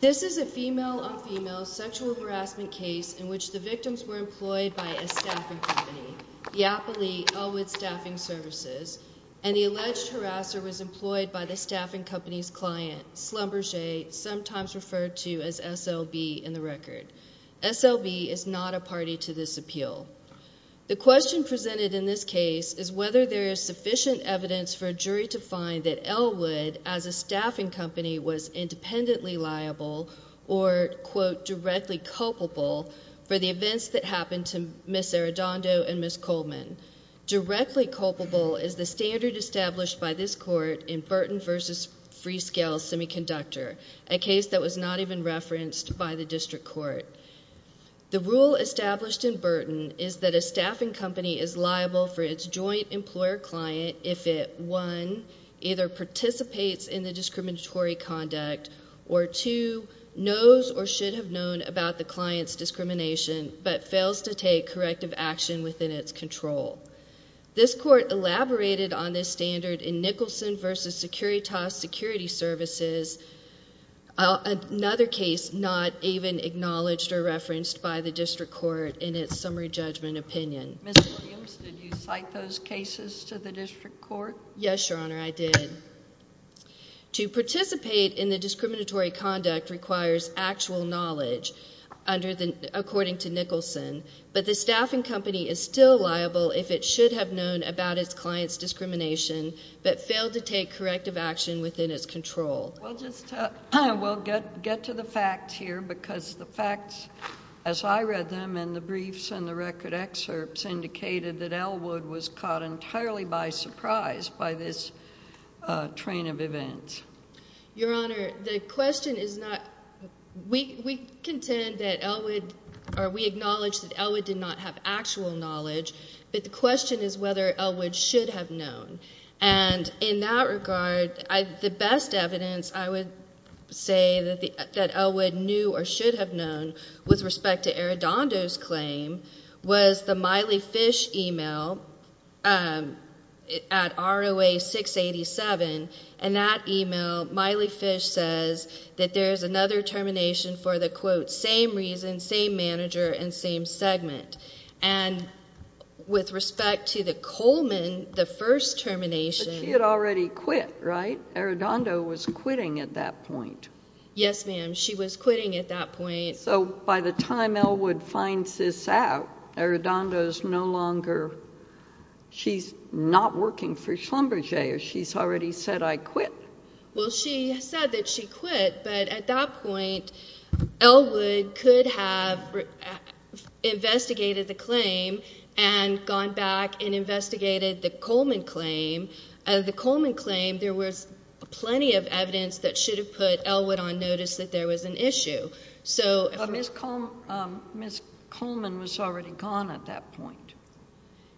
This is a female on female sexual harassment case in which the victims were employed by a staffing company, the Appley Elwood Staffing Svc, and the alleged harasser was employed by the staffing company's client, Schlumberger, sometimes referred to as SLB in the record. SLB is not a party to this appeal. The question presented in this case is whether there is sufficient evidence for a jury to find that Elwood, as a staffing company, was independently liable or, quote, directly culpable for the events that happened to Ms. Arredondo and Ms. Coleman. Directly culpable is the standard established by this court in Burton v. Freescale Semiconductor, a case that was not even referenced by the district court. The rule established in Burton is that a staffing company is liable for its joint employer-client if it, one, either participates in the discriminatory conduct or, two, knows or should have known about the client's discrimination but fails to take corrective action within its control. This court elaborated on this standard in Nicholson v. Securitas Security Services, another case not even acknowledged or referenced by the district court in its summary judgment opinion. Ms. Williams, did you cite those cases to the district court? Yes, Your Honor, I did. To participate in the discriminatory conduct requires actual knowledge, according to Nicholson, but the staffing company is still liable if it should have known about its client's discrimination but failed to take corrective action within its control. We'll get to the facts here, because the facts, as I read them in the briefs and the record excerpts, indicated that Elwood was caught entirely by surprise by this train of events. Your Honor, the question is not, we contend that Elwood, or we acknowledge that Elwood did not have actual knowledge, but the question is whether Elwood should have known. And in that regard, the best evidence I would say that Elwood knew or should have known with respect to Arredondo's claim was the Miley Fish email at ROA 687, and that email, Miley Fish says that there is another termination for the, quote, same reason, same manager, and same segment. And with respect to the Coleman, the first termination— But she had already quit, right? Arredondo was quitting at that point. Yes, ma'am, she was quitting at that point. So by the time Elwood finds this out, Arredondo's no longer, she's not working for Schlumberger. She's already said, I quit. Well, she said that she quit, but at that point, Elwood could have investigated the claim and gone back and investigated the Coleman claim. The Coleman claim, there was plenty of evidence that should have put Elwood on notice that there was an issue, so— Ms. Coleman was already gone at that point.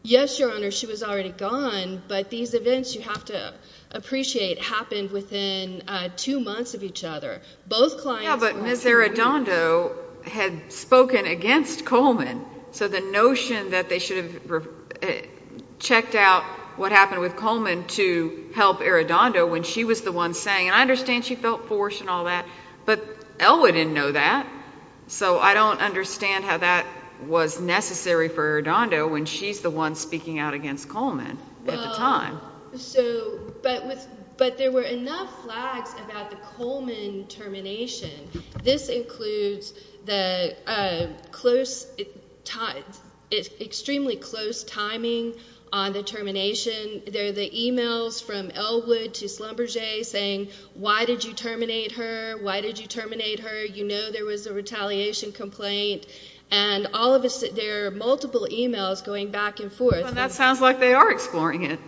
Yes, Your Honor, she was already gone, but these events, you have to appreciate, happened within two months of each other. Both clients— Yeah, but Ms. Arredondo had spoken against Coleman, so the notion that they should have checked out what happened with Coleman to help Arredondo when she was the one saying, and I understand she felt forced and all that, but Elwood didn't know that, so I don't understand how that was necessary for Arredondo when she's the one speaking out against Coleman at the time. But there were enough flags about the Coleman termination. This includes the close, extremely close timing on the termination. There are the emails from Elwood to Schlumberger saying, why did you terminate her? Why did you terminate her? You know there was a retaliation complaint, and all of a sudden, there are multiple emails going back and forth. That sounds like they are exploring it.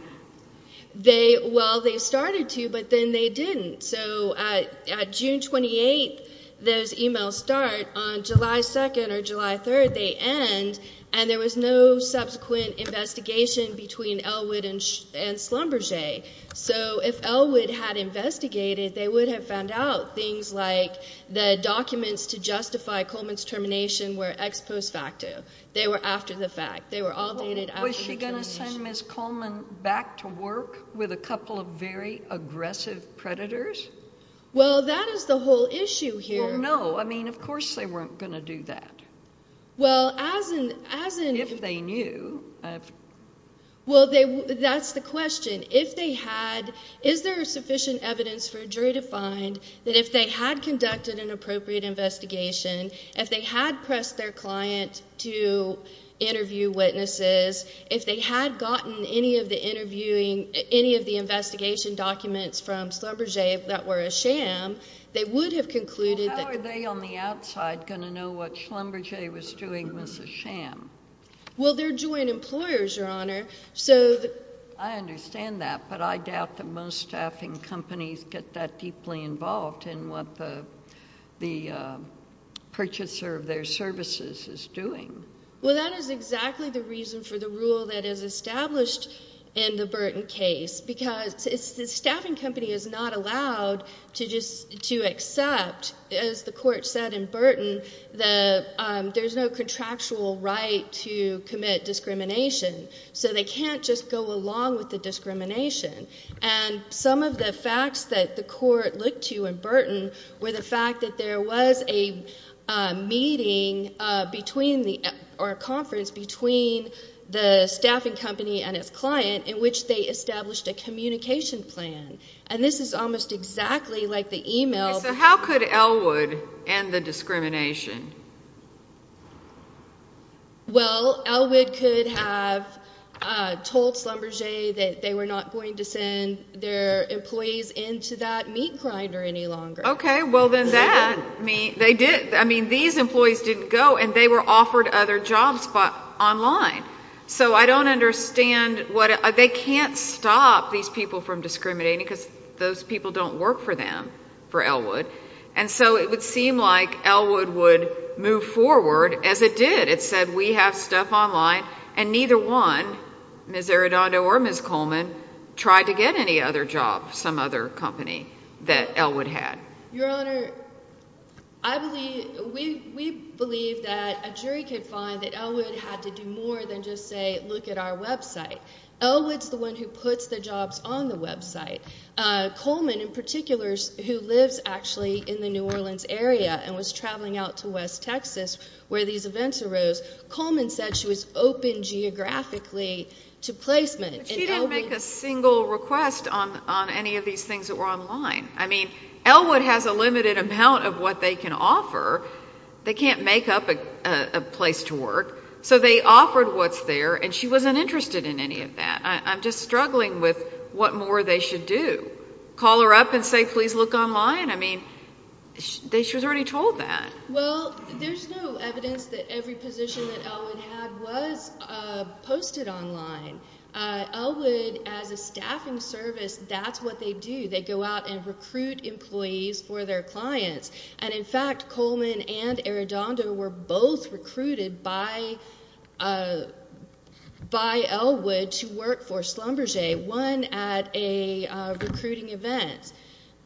They, well, they started to, but then they didn't, so at June 28th, those emails start. On July 2nd or July 3rd, they end, and there was no subsequent investigation between Elwood and Schlumberger, so if Elwood had investigated, they would have found out things like the documents to justify Coleman's termination were ex post facto. They were after the fact. They were all dated after the truth. Was she going to send Ms. Coleman back to work with a couple of very aggressive predators? Well, that is the whole issue here. No, I mean, of course they weren't going to do that. Well, as in, as in, If they knew. Well, they, that's the question. If they had, is there sufficient evidence for a jury to find that if they had conducted an appropriate investigation, if they had pressed their client to interview witnesses, if they had gotten any of the interviewing, any of the investigation documents from Schlumberger that were a sham, they would have concluded that. Well, how are they on the outside going to know what Schlumberger was doing was a sham? Well, they're joint employers, Your Honor, so. I understand that, but I doubt that most staffing companies get that deeply involved in what the purchaser of their services is doing. Well, that is exactly the reason for the rule that is established in the Burton case, because the staffing company is not allowed to just, to accept, as the court said in Burton, the, there's no contractual right to commit discrimination. So they can't just go along with the discrimination. And some of the facts that the court looked to in Burton were the fact that there was a meeting between the, or a conference between the staffing company and its client in which they established a communication plan. And this is almost exactly like the email. So how could Elwood end the discrimination? Well, Elwood could have told Schlumberger that they were not going to send their employees into that meat grinder any longer. Okay, well then that means, they did, I mean, these employees didn't go and they were offered other jobs online. So I don't understand what, they can't stop these people from discriminating because those people don't work for them, for Elwood. And so it would seem like Elwood would move forward as it did. It said we have stuff online and neither one, Ms. Arredondo or Ms. Coleman, tried to get any other job, some other company that Elwood had. Your Honor, I believe, we believe that a jury could find that Elwood had to do more than just say, look at our website. Elwood's the one who puts the jobs on the website. Coleman, in particular, who lives actually in the New Orleans area and was traveling out to West Texas where these events arose, Coleman said she was open geographically to placement. But she didn't make a single request on any of these things that were online. I mean, Elwood has a limited amount of what they can offer. They can't make up a place to work. So they offered what's there and she wasn't interested in any of that. I'm just struggling with what more they should do. Call her up and say please look online? I mean, she was already told that. Well, there's no evidence that every position that Elwood had was posted online. Elwood, as a staffing service, that's what they do. They go out and recruit employees for their clients. And in fact, Coleman and Arredondo were both recruited by Elwood to work for Schlumberger, one at a recruiting event,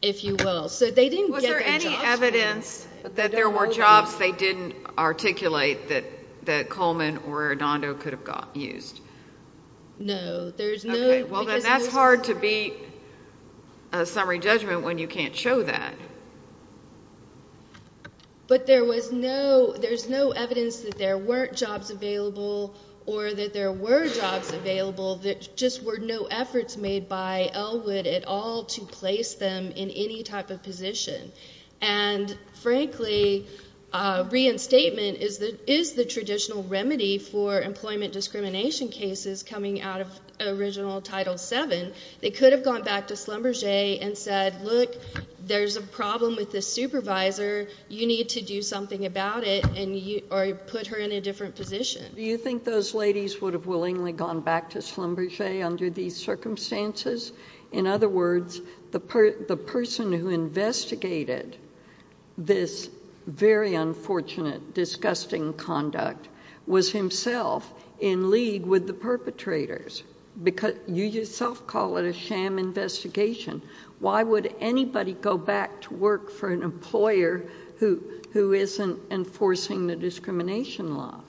if you will. Was there any evidence that there were jobs they didn't articulate that Coleman or Arredondo could have used? No. Okay, well then that's hard to beat a summary judgment when you can't show that. But there was no evidence that there weren't jobs available or that there were jobs available that just were no efforts made by Elwood at all to place them in any type of position. And frankly, reinstatement is the traditional remedy for employment discrimination cases coming out of original Title VII. They could have gone back to Schlumberger and said, look, there's a problem with this supervisor. You need to do something about it or put her in a different position. Do you think those ladies would have willingly gone back to Schlumberger under these circumstances? In other words, the person who investigated this very unfortunate, disgusting conduct was himself in league with the perpetrators. You yourself call it a sham investigation. Why would anybody go back to work for an employer who isn't enforcing the discrimination law?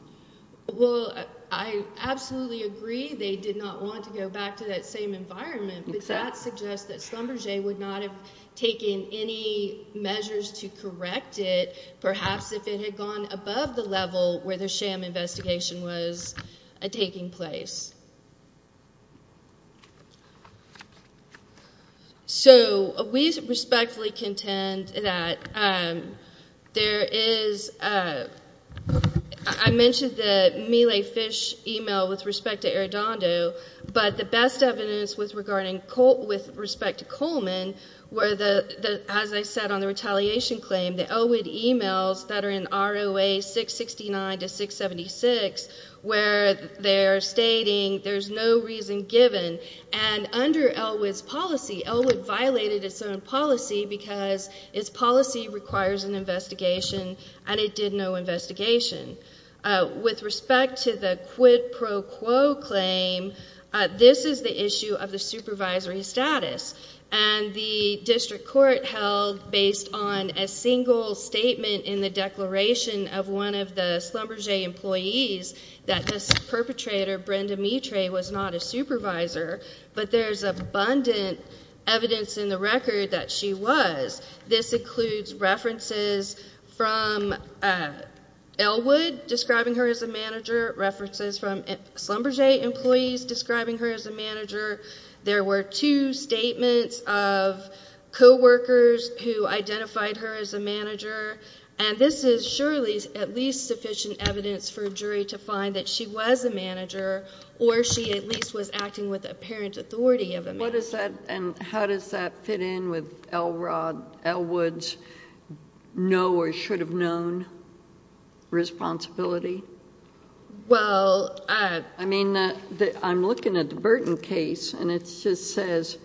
Well, I absolutely agree they did not want to go back to that same environment, but that suggests that Schlumberger would not have taken any measures to correct it, perhaps if it had gone above the level where the sham investigation was taking place. So, we respectfully contend that there is, I mentioned the Meal A Fish email with respect to Arradondo, but the best evidence was regarding, with respect to Coleman, where, as I said on the retaliation claim, the Elwood emails that are in ROA 669 to 676 where they're stating there's no reason given and under Elwood's policy, Elwood violated its own policy because its policy requires an investigation and it did no investigation. With respect to the quid pro quo claim, this is the issue of the supervisory status and the district court held, based on a single statement in the declaration of one of the Schlumberger employees, that this perpetrator, Brenda Mitre, was not a supervisor, but there's abundant evidence in the record that she was. This includes references from Elwood describing her as a manager, references from Schlumberger employees describing her as a manager. There were two statements of co-workers who identified her as a manager and this is surely at least sufficient evidence for a jury to find that she was a manager or she at least was acting with apparent authority of a manager. And how does that fit in with Elwood's know or should have known responsibility? Well, I mean, I'm looking at the Burton case and it just says,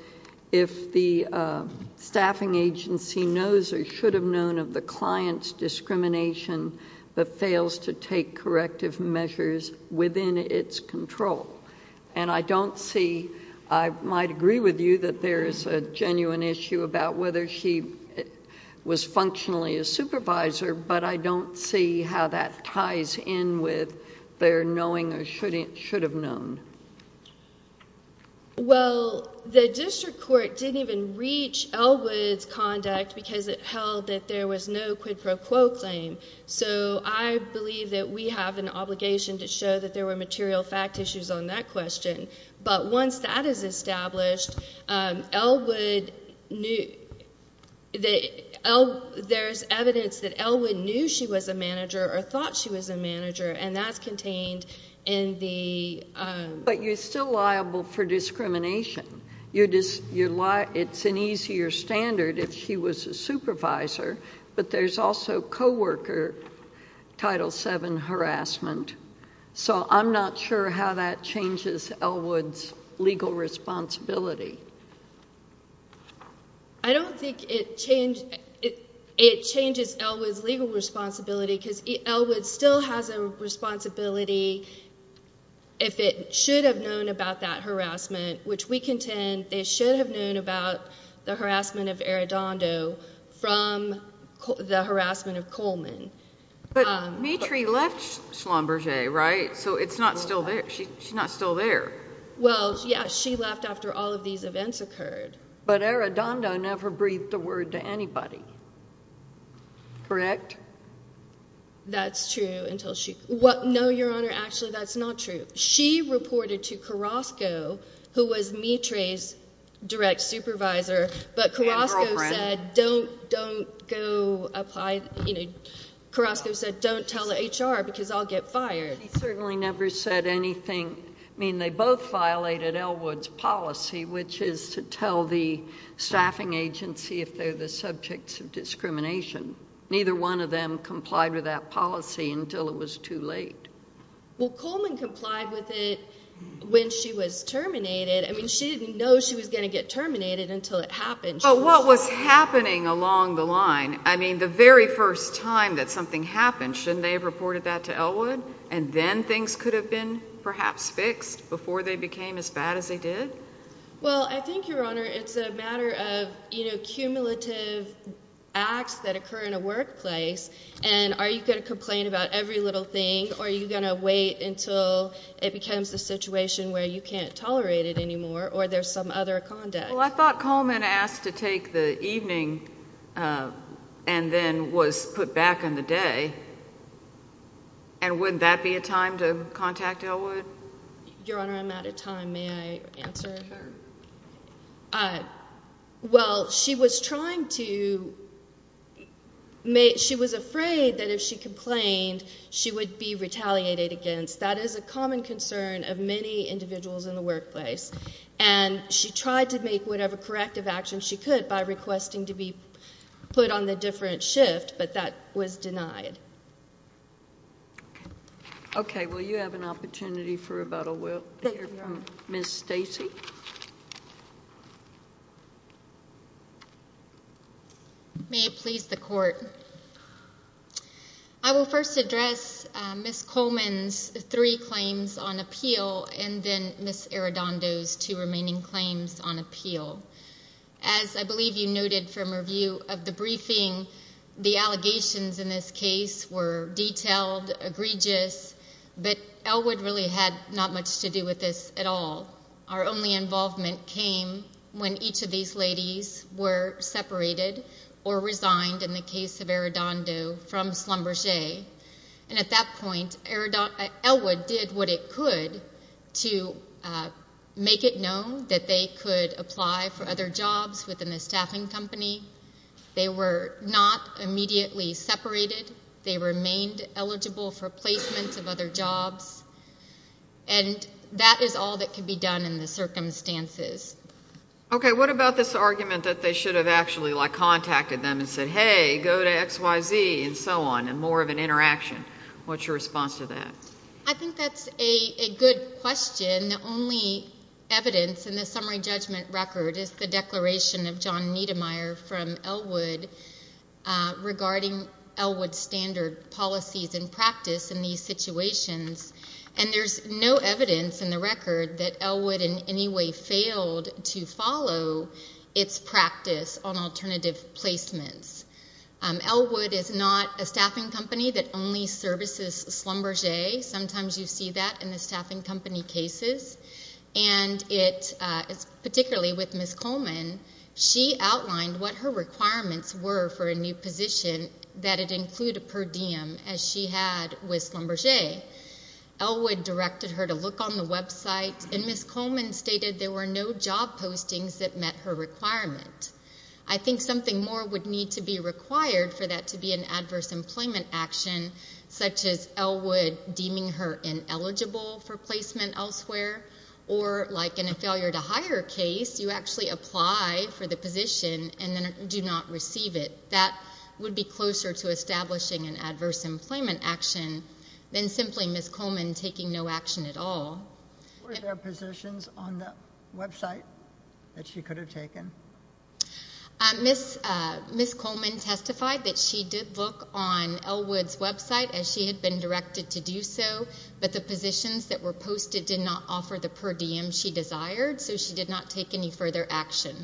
if the staffing agency knows or should have known of the client's discrimination that fails to take corrective measures within its control. And I don't see, I might agree with you that there is a genuine issue about whether she was functionally a supervisor, but I don't see how that ties in with their knowing or should have known. Well, the district court didn't even reach Elwood's conduct because it held that there was no quid pro quo claim. So I believe that we have an obligation to show that there were material fact issues on that question. But once that is established, there's evidence that Elwood knew she was a manager or thought she was a manager and that's contained in the... But you're still liable for discrimination. It's an easier standard if she was a supervisor, but there's also co-worker Title VII harassment. So I'm not sure how that changes Elwood's legal responsibility. I don't think it changes Elwood's legal responsibility because Elwood still has a responsibility if it should have known about that harassment, which we contend they should have known about the harassment of Arradondo from the harassment of Coleman. But Mitri left Schlumberger, right? So it's not still there. She's not still there. Well, yeah, she left after all of these events occurred. But Arradondo never breathed a word to anybody. Correct? That's true until she... No, Your Honor, actually that's not true. She reported to Carrasco, who was Mitri's direct supervisor, but Carrasco said, don't go apply... Carrasco said, don't tell the HR because I'll get fired. She certainly never said anything... I mean, they both violated Elwood's policy, which is to tell the staffing agency if they're the subjects of discrimination. Neither one of them complied with that policy until it was too late. Well, Coleman complied with it when she was terminated. I mean, she didn't know she was going to get terminated until it happened. But what was happening along the line? I mean, the very first time that something happened, shouldn't they have reported that to Elwood? And then things could have been perhaps fixed before they became as bad as they did? Well, I think, Your Honor, it's a matter of, you know, cumulative acts that occur in a workplace, and are you going to complain about every little thing, or are you going to wait until it becomes a situation where you can't tolerate it anymore, or there's some other conduct? Well, I thought Coleman asked to take the evening and then was put back in the day. And wouldn't that be a time to contact Elwood? Your Honor, I'm out of time. May I answer? Well, she was trying to... She was afraid that if she complained, she would be retaliated against. That is a common concern of many individuals in the workplace. And she tried to make whatever corrective action she could by requesting to be put on the different shift, but that was denied. Okay. Well, you have an opportunity for rebuttal later. Thank you, Your Honor. Ms. Stacy? May it please the Court. I will first address Ms. Coleman's three claims on appeal, and then Ms. Arredondo's two remaining claims on appeal. As I believe you noted from review of the briefing, the allegations in this case were detailed, egregious, but Elwood really had not much to do with this at all. Our only involvement came when each of these ladies were separated or resigned, in the case of Arredondo, from Schlumberger. And at that point, Elwood did what it could to make it known that they could apply for other jobs within the staffing company. They were not immediately separated. They remained eligible for placement of other jobs. And that is all that could be done in the circumstances. Okay. What about this argument that they should have actually contacted them and said, hey, go to XYZ, and so on, and more of an interaction? What's your response to that? I think that's a good question. The only evidence in the summary judgment record is the declaration of John Niedermeyer from Elwood regarding Elwood's standard policies and practice in these situations. And there's no evidence in the record that Elwood in any way failed to follow its practice on alternative placements. Elwood is not a staffing company that only services Schlumberger. Sometimes you see that in the staffing company cases. And particularly with Ms. Coleman, she outlined what her requirements were for a new position, that it include a per diem, as she had with Schlumberger. Elwood directed her to look on the website, and Ms. Coleman stated there were no job postings that met her requirement. I think something more would need to be required for that to be an adverse employment action, such as Elwood deeming her ineligible for placement elsewhere, or like in a failure-to-hire case, you actually apply for the position and then do not receive it. That would be closer to establishing an adverse employment action than simply Ms. Coleman taking no action at all. Were there positions on the website that she could have taken? Ms. Coleman testified that she did look on Elwood's website, as she had been directed to do so, but the positions that were posted did not offer the per diem she desired, so she did not take any further action.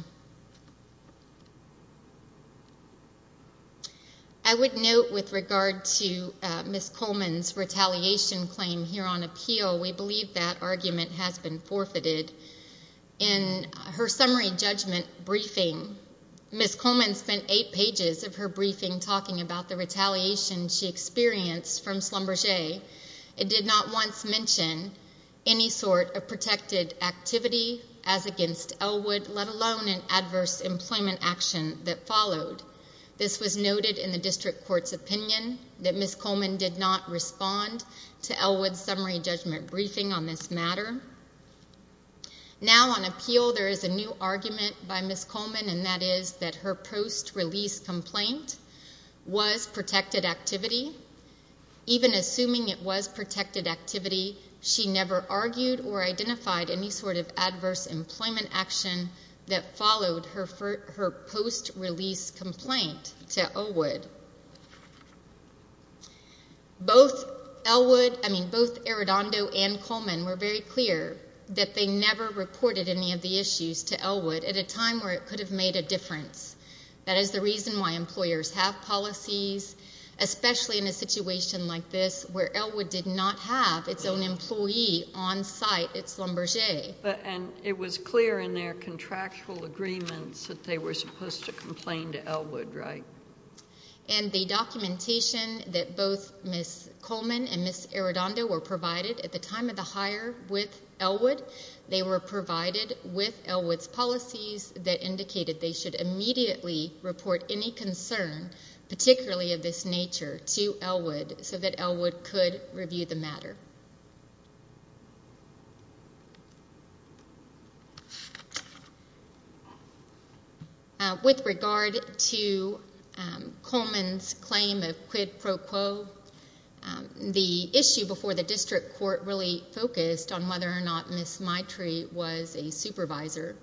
I would note with regard to Ms. Coleman's retaliation claim here on appeal, we believe that argument has been forfeited. In her summary judgment briefing, Ms. Coleman spent eight pages of her briefing talking about the retaliation she experienced from Schlumberger. It did not once mention any sort of protected activity as against Elwood, let alone an adverse employment action that followed. This was noted in the district court's opinion, that Ms. Coleman did not respond to Elwood's summary judgment briefing on this matter. Now on appeal, there is a new argument by Ms. Coleman, and that is that her post-release complaint was protected activity. Even assuming it was protected activity, she never argued or identified any sort of adverse employment action that followed her post-release complaint to Elwood. Both Elwood, I mean both Arredondo and Coleman were very clear that they never reported any of the issues to Elwood at a time where it could have made a difference. That is the reason why employers have policies, especially in a situation like this where Elwood did not have its own employee on site, its Schlumberger. And it was clear in their contractual agreements that they were supposed to complain to Elwood, right? And the documentation that both Ms. Coleman and Ms. Arredondo were provided at the time of the hire with Elwood, they were provided with Elwood's policies that indicated they should immediately report any concern, particularly of this nature, to Elwood so that Elwood could review the matter. With regard to Coleman's claim of quid pro quo, the issue before the district court really focused on whether or not Ms. Maitrey was a supervisor.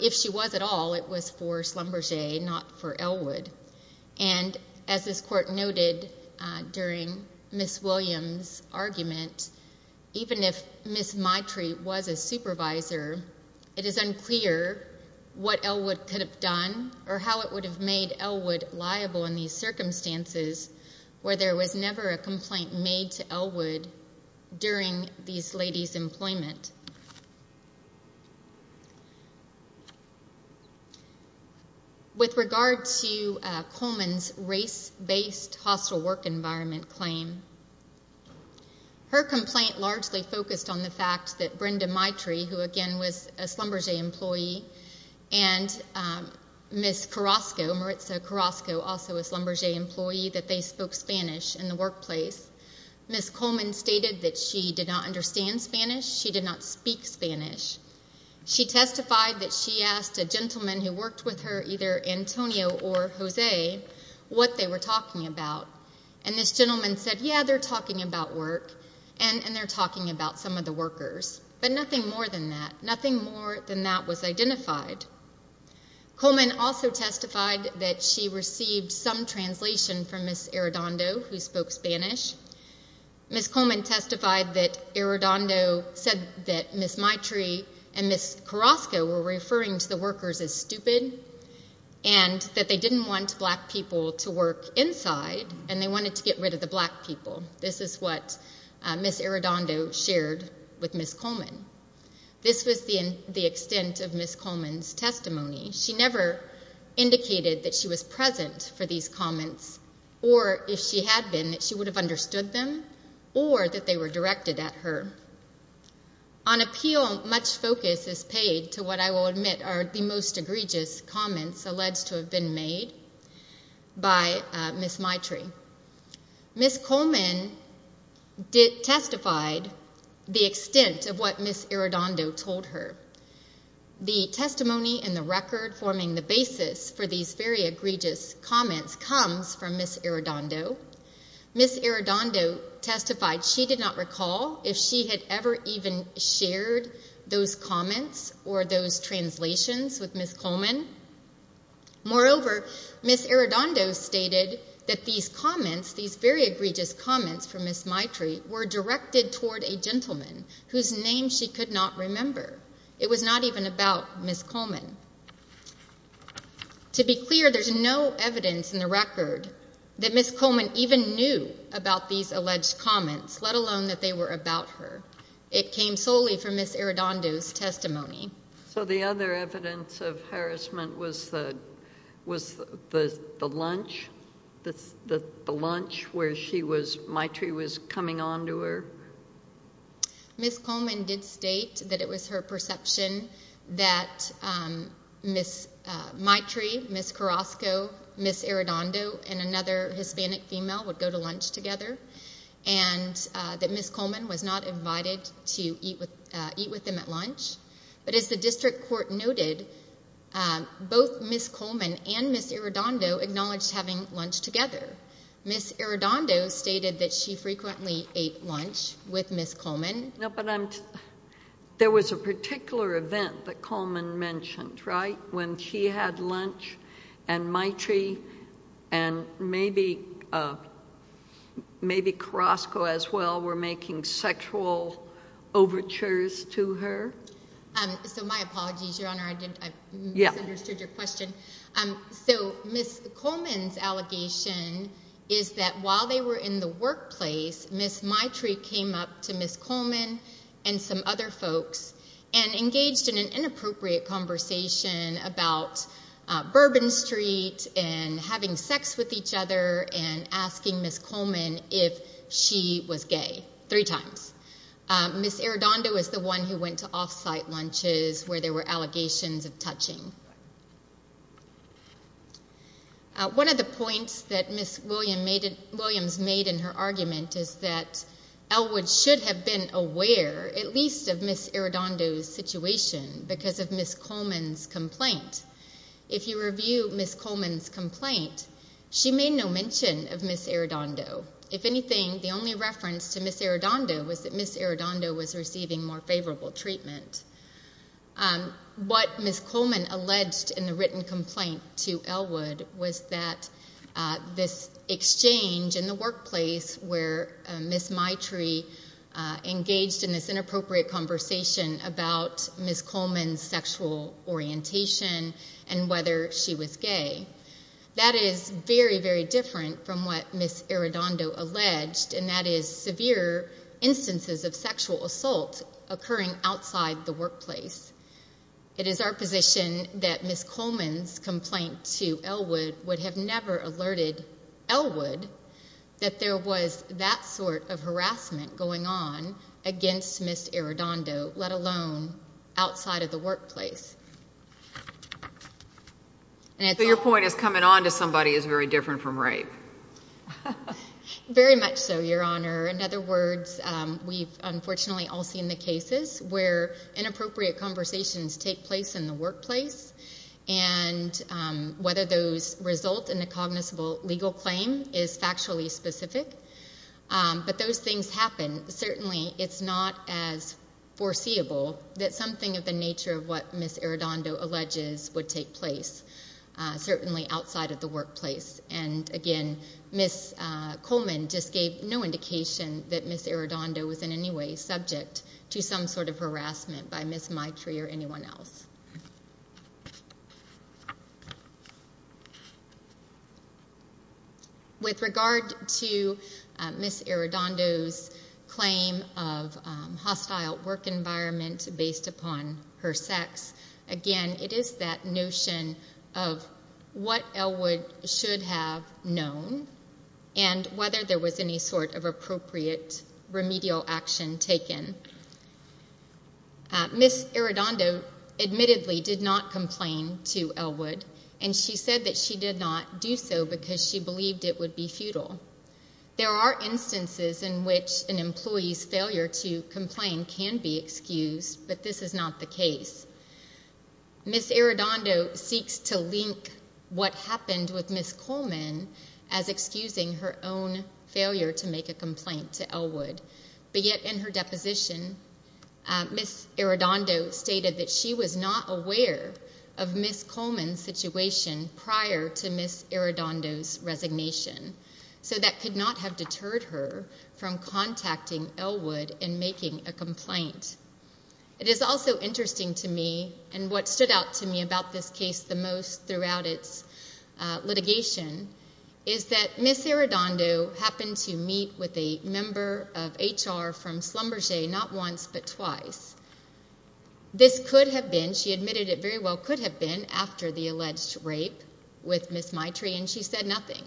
If she was at all, it was for Schlumberger, not for Elwood. And as this court noted during Ms. Williams' argument, even if Ms. Maitrey was a supervisor, it is unclear what Elwood could have done or how it would have made Elwood liable in these circumstances where there was never a complaint made to Elwood during these ladies' employment. With regard to Coleman's race-based hostile work environment claim, her complaint largely focused on the fact that Brenda Maitrey, who again was a Schlumberger employee, and Ms. Carrasco, Maritza Carrasco, also a Schlumberger employee, that they spoke Spanish in the workplace. Ms. Coleman stated that she did not understand Spanish, she did not speak Spanish. She testified that she asked a gentleman who worked with her, either Antonio or Jose, what they were talking about. And this gentleman said, yeah, they're talking about work, and they're talking about some of the workers, but nothing more than that. Nothing more than that was identified. Coleman also testified that she received some translation from Ms. Arredondo, who spoke Spanish. Ms. Coleman testified that Arredondo said that Ms. Maitrey and Ms. Carrasco were referring to the workers as stupid and that they didn't want black people to work inside and they wanted to get rid of the black people. This is what Ms. Arredondo shared with Ms. Coleman. This was the extent of Ms. Coleman's testimony. She never indicated that she was present for these comments or, if she had been, that she would have understood them or that they were directed at her. On appeal, much focus is paid to what I will admit are the most egregious comments alleged to have been made by Ms. Maitrey. Ms. Coleman testified the extent of what Ms. Arredondo told her. The testimony in the record forming the basis for these very egregious comments comes from Ms. Arredondo. Ms. Arredondo testified she did not recall if she had ever even shared those comments or those translations with Ms. Coleman. Moreover, Ms. Arredondo stated that these comments, these very egregious comments from Ms. Maitrey were directed toward a gentleman whose name she could not remember. It was not even about Ms. Coleman. To be clear, there's no evidence in the record that Ms. Coleman even knew about these alleged comments, let alone that they were about her. It came solely from Ms. Arredondo's testimony. So the other evidence of harassment was the lunch? The lunch where Maitrey was coming on to her? Ms. Coleman did state that it was her perception that Ms. Maitrey, Ms. Carrasco, Ms. Arredondo and another Hispanic female would go to lunch together and that Ms. Coleman was not invited to eat with them at lunch. But as the district court noted, both Ms. Coleman and Ms. Arredondo acknowledged having lunch together. Ms. Arredondo stated that she frequently ate lunch with Ms. Coleman. There was a particular event that Coleman mentioned, right? When she had lunch and Maitrey and maybe Carrasco as well were making sexual overtures to her? My apologies, Your Honor. I misunderstood your question. Ms. Coleman's allegation is that while they were in the workplace, Ms. Maitrey came up to Ms. Coleman and some other folks and engaged in an inappropriate conversation about Bourbon Street and having sex with each other and asking Ms. Coleman if she was gay. Three times. Ms. Arredondo is the one who went to off-site lunches where there were allegations of touching. One of the points that Ms. Williams made in her argument is that Elwood should have been aware at least of Ms. Arredondo's situation because of Ms. Coleman's complaint. If you review Ms. Coleman's complaint, she made no mention of Ms. Arredondo. If anything, the only reference to Ms. Arredondo was that Ms. Arredondo was receiving more favorable treatment. What Ms. Coleman alleged in the written complaint to Elwood was that this exchange in the workplace where Ms. Maitrey engaged in this inappropriate conversation about Ms. Coleman's sexual orientation and whether she was gay, that is very, very different from what Ms. Arredondo alleged and that is severe instances of sexual assault occurring outside the workplace. It is our position that Ms. Coleman's complaint to Elwood would have never alerted Elwood that there was that sort of harassment going on against Ms. Arredondo, let alone outside of the workplace. Your point is coming on to somebody is very different from rape. Very much so, Your Honor. In other words, we've unfortunately all seen the cases where inappropriate conversations take place in the workplace and whether those result in a cognizable legal claim is factually specific, but those things happen. Certainly it's not as foreseeable that something of the nature of what Ms. Arredondo alleges would take place, certainly outside of the workplace. And again, Ms. Coleman just gave no indication that Ms. Arredondo was in any way subject to some sort of harassment by Ms. Maitrey or anyone else. With regard to Ms. Arredondo's claim of hostile work environment based upon her sex, again, it is that notion of what Elwood should have known and whether there was any sort of appropriate remedial action taken. Ms. Arredondo admittedly did not complain to Elwood and she said that she did not do so because she believed it would be futile. There are instances in which an employee's failure to complain can be excused, but this is not the case. Ms. Arredondo seeks to link what happened with Ms. Coleman as excusing her own failure to make a complaint to Elwood. But yet in her deposition, Ms. Arredondo stated that she was not aware of Ms. Coleman's situation prior to Ms. Arredondo's resignation. So that could not have deterred her from contacting Elwood and making a complaint. It is also interesting to me and what stood out to me about this case the most throughout its litigation is that Ms. Arredondo happened to meet with a member of HR from Schlumberger not once but twice. This could have been, she admitted it very well, could have been after the alleged rape with Ms. Maitrey and she said nothing.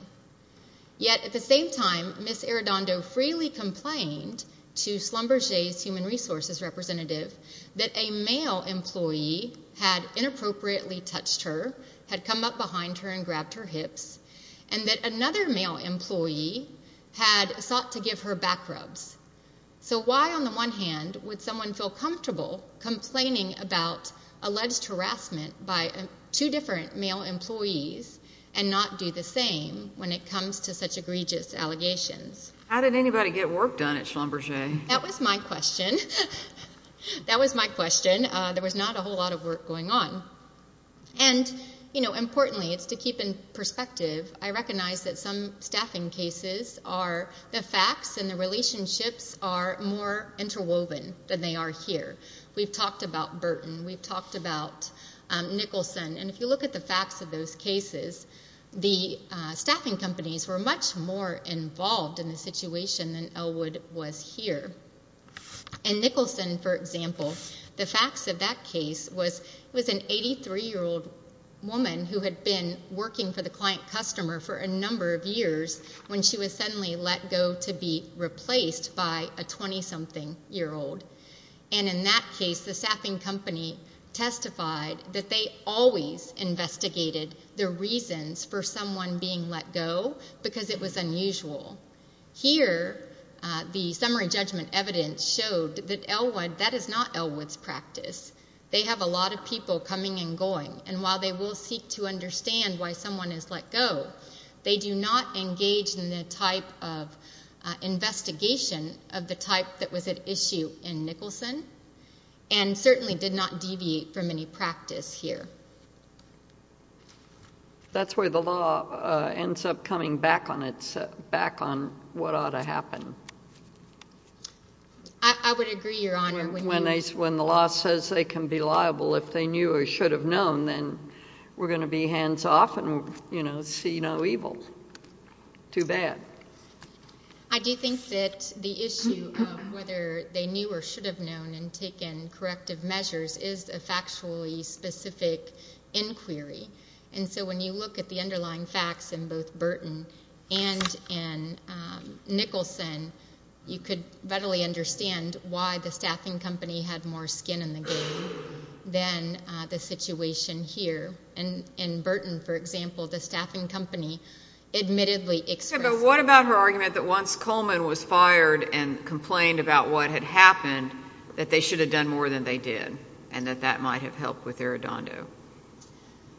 Yet at the same time, Ms. Arredondo freely complained to Schlumberger's human resources representative that a male employee had inappropriately touched her, had come up behind her and grabbed her hips and that another male employee had sought to give her back rubs. So why on the one hand would someone feel comfortable complaining about alleged harassment by two different male employees and not do the same when it comes to such egregious allegations? How did anybody get work done at Schlumberger? That was my question. There was not a whole lot of work going on. And importantly, to keep in perspective, I recognize that some staffing cases are the facts and the relationships are more interwoven than they are here. We've talked about Burton, we've talked about Nicholson, and if you look at the facts of those cases, the staffing companies were much more involved in the situation than Ellwood was here. In Nicholson, for example, the facts of that case was it was an 83-year-old woman who had been working for the client customer for a number of years when she was suddenly let go to be replaced by a 20-something year old. And in that case, the staffing company testified that they always investigated the reasons for someone being let go because it was unusual. Here, the summary judgment evidence showed that Ellwood, that is not Ellwood's practice. They have a lot of people coming and going and while they will seek to understand why someone is let go, they do not engage in the type of investigation of the type that was at issue in Nicholson and certainly did not deviate from any practice here. That's where the law ends up coming back on what ought to happen. I would agree, Your Honor. When the law says they can be liable if they knew or should have known, then we're going to be hands off and see no evil. Too bad. I do think that the issue of whether they knew or should have known and taken corrective measures is a factually specific inquiry. And so when you look at the underlying facts in both Burton and in Nicholson, you could readily understand why the staffing company had more skin in the game than the situation here. In Burton, for example, the staffing company admittedly expressed... But what about her argument that once Coleman was fired and complained about what had happened that they should have done more than they did and that that might have helped with Aradondo?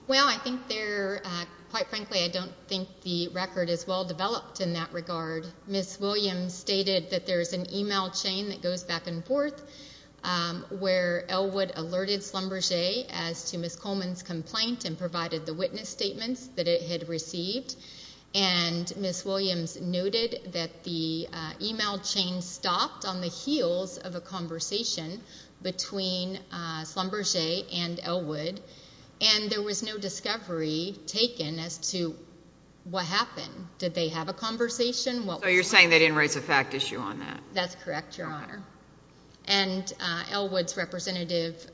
Well, I think there, quite frankly, I don't think the record is well developed in that regard. Ms. Williams stated that there's an email chain that goes back and forth where Elwood alerted Schlumberger as to Ms. Coleman's complaint and provided the witness statements that it had received. And Ms. Williams noted that the email chain stopped on the heels of a conversation between Schlumberger and Elwood, and there was no discovery taken as to what happened. Did they have a conversation? So you're saying they didn't raise a fact issue on that? That's correct, Your Honor. And Elwood's representative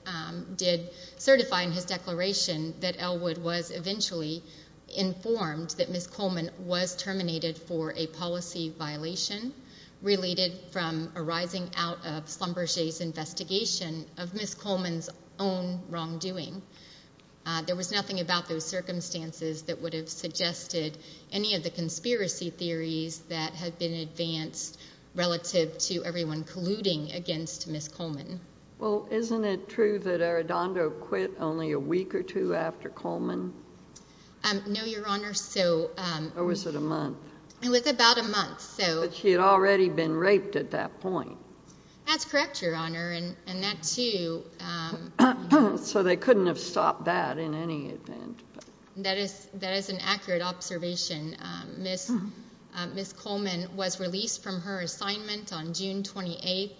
did certify in his declaration that Elwood was eventually informed that Ms. Coleman was terminated for a policy violation related from arising out of Schlumberger's investigation of Ms. Coleman's own wrongdoing. There was nothing about those circumstances that would have suggested any of the conspiracy theories that had been advanced relative to everyone colluding against Ms. Coleman. Well, isn't it true that Aradondo quit only a week or two after Coleman? No, Your Honor, so... Or was it a month? It was about a month, so... But she had already been raped at that point. That's correct, Your Honor, and that So they couldn't have stopped that in any event. That is an accurate observation. Ms. Coleman was released from her assignment on June 28th.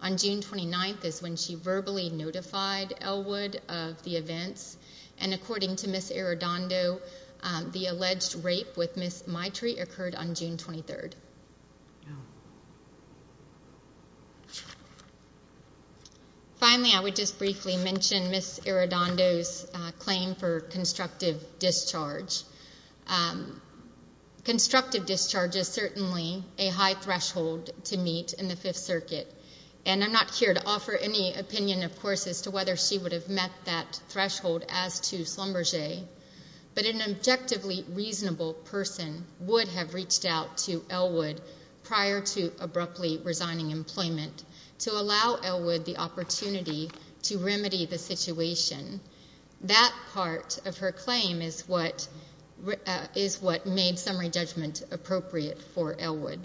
On June 29th is when she verbally notified Elwood of the events, and according to Ms. Aradondo, the alleged rape with Ms. Maitre occurred on June 23rd. Finally, I would just briefly mention Ms. Aradondo's claim for constructive discharge. Constructive discharge is certainly a high threshold to meet in the Fifth Circuit, and I'm not here to offer any opinion, of course, as to whether she would have met that threshold as to Schlumberger, but an objectively reasonable person would have reached out to prior to abruptly resigning employment to allow Elwood the opportunity to remedy the situation. That part of her claim is what made summary judgment appropriate for Elwood.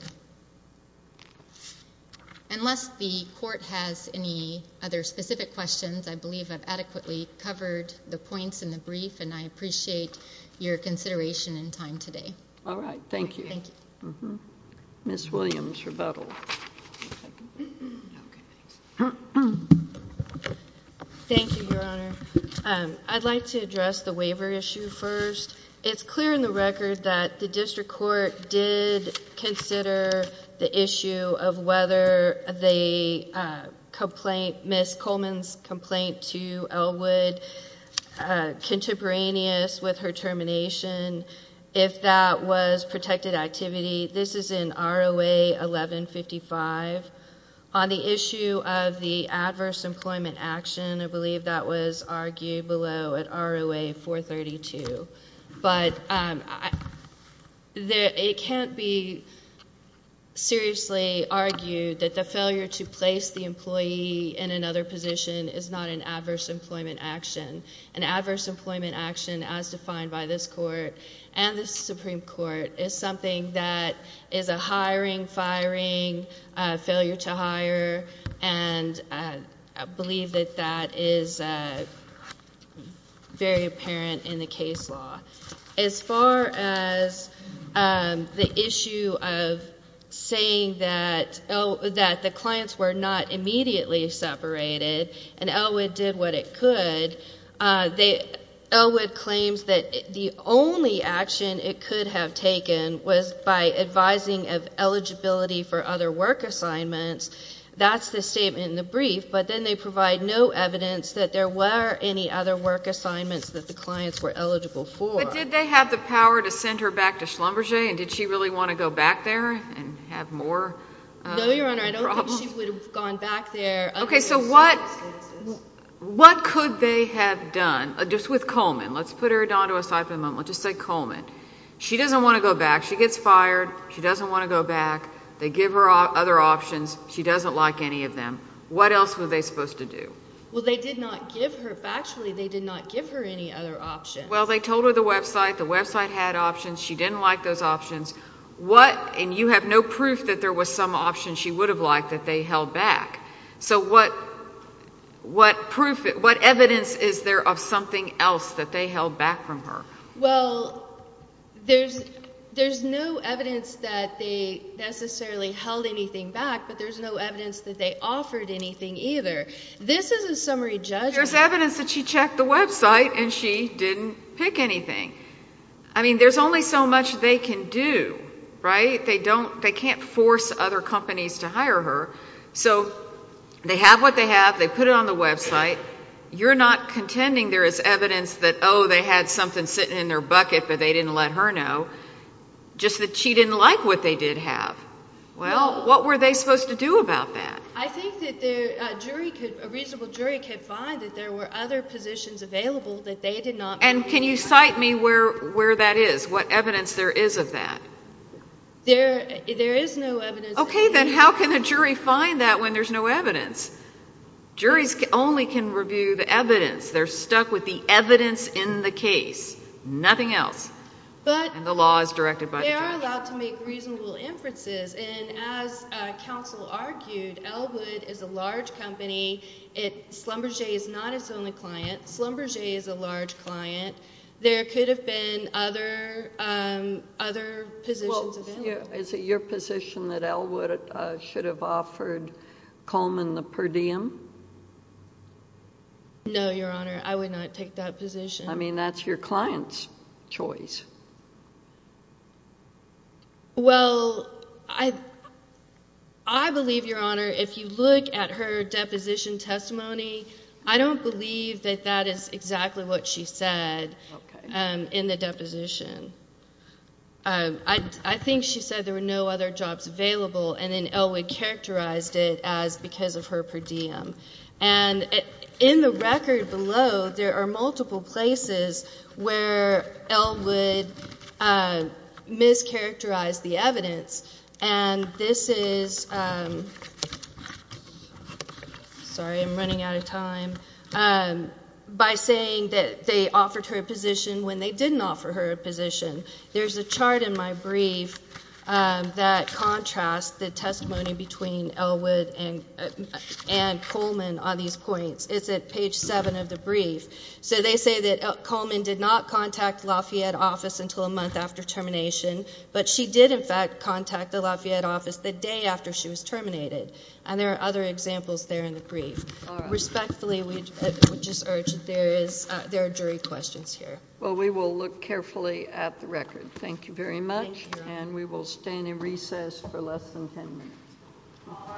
Unless the Court has any other specific questions, I believe I've adequately covered the points in the brief, and I appreciate your consideration and time today. All right. Thank you. Ms. Williams, rebuttal. Thank you, Your Honor. I'd like to address the waiver issue first. It's clear in the record that the District Court did consider the issue of whether the complaint, Ms. Coleman's complaint to Elwood contemporaneous with her termination, if that was protected activity. This is in ROA 1155. On the issue of the adverse employment action, I believe that was argued below at ROA 432, but it can't be seriously argued that the failure to place the employee in another position is not an adverse employment action. An adverse employment action, as defined by this Court and the Supreme Court, is something that is a hiring, firing, failure to hire, and I believe that that is very apparent in the case law. As far as the issue of saying that the clients were not immediately separated, and Elwood did what it could, Elwood claims that the only action it could have taken was by advising of eligibility for other work assignments. That's the statement in the brief, but then they provide no evidence that there were any other work assignments that the clients were eligible for. But did they have the power to send her back to Schlumberger, and did she really want to go back there and have more problems? No, Your Honor, I don't think she would have gone back there Okay, so what could they have done? Just with Coleman. Let's put her down to a side for a moment. Let's just say Coleman. She doesn't want to go back. She gets fired. She doesn't want to go back. They give her other options. She doesn't like any of them. What else were they supposed to do? Well, they did not give her Actually, they did not give her any other options. Well, they told her the website. The website had options. She didn't like those options. What, and you have no proof that there was some options she would have liked that they held back. So what evidence is there of something else that they held back from her? Well, there's no evidence that they necessarily held anything back, but there's no evidence that they offered anything either. This is a summary judgment. There's evidence that she checked the website and she didn't pick anything. I mean, there's only so much they can do, right? They can't force other companies to hire her. So they have what they have. They put it on the website. You're not contending there is evidence that, oh, they had something sitting in their bucket but they didn't let her know. Just that she didn't like what they did have. Well, what were they supposed to do about that? I think that a reasonable jury could find that there were other positions available that they did not make. And can you cite me where that is, what evidence there is of that? There is no evidence. Okay, then how can a jury find that when there's no evidence? Juries only can review the evidence. They're stuck with the evidence in the case. Nothing else. And the law is directed by the jury. But they are allowed to make reasonable inferences. And as counsel argued, Ellwood is a large company. Schlumberger is not its only client. Schlumberger is a large client. There could have been other positions available. Is it your position that Ellwood should have offered Coleman the per diem? No, Your Honor. I would not take that position. I mean, that's your client's choice. Well, I believe, Your Honor, if you look at her deposition testimony, I don't believe that that is exactly what she said in the deposition. I think she said there were no other jobs available, and then Ellwood characterized it as because of her per diem. And in the record below, there are multiple places where Ellwood mischaracterized the evidence. And this is by saying that they offered her a position when they didn't offer her a position. There's a chart in my brief that contrasts the testimony between Ellwood and Coleman on these points. It's at page 7 of the brief. So they say that Coleman did not contact Lafayette office until a month after termination, but she did, in fact, contact the Lafayette office the day after she was terminated. And there are other examples there in the brief. Respectfully, we just urge that there are jury questions here. Well, we will look carefully at the record. Thank you very much. Thank you, Your Honor. And we will stay in recess for less than 10 minutes. All rise.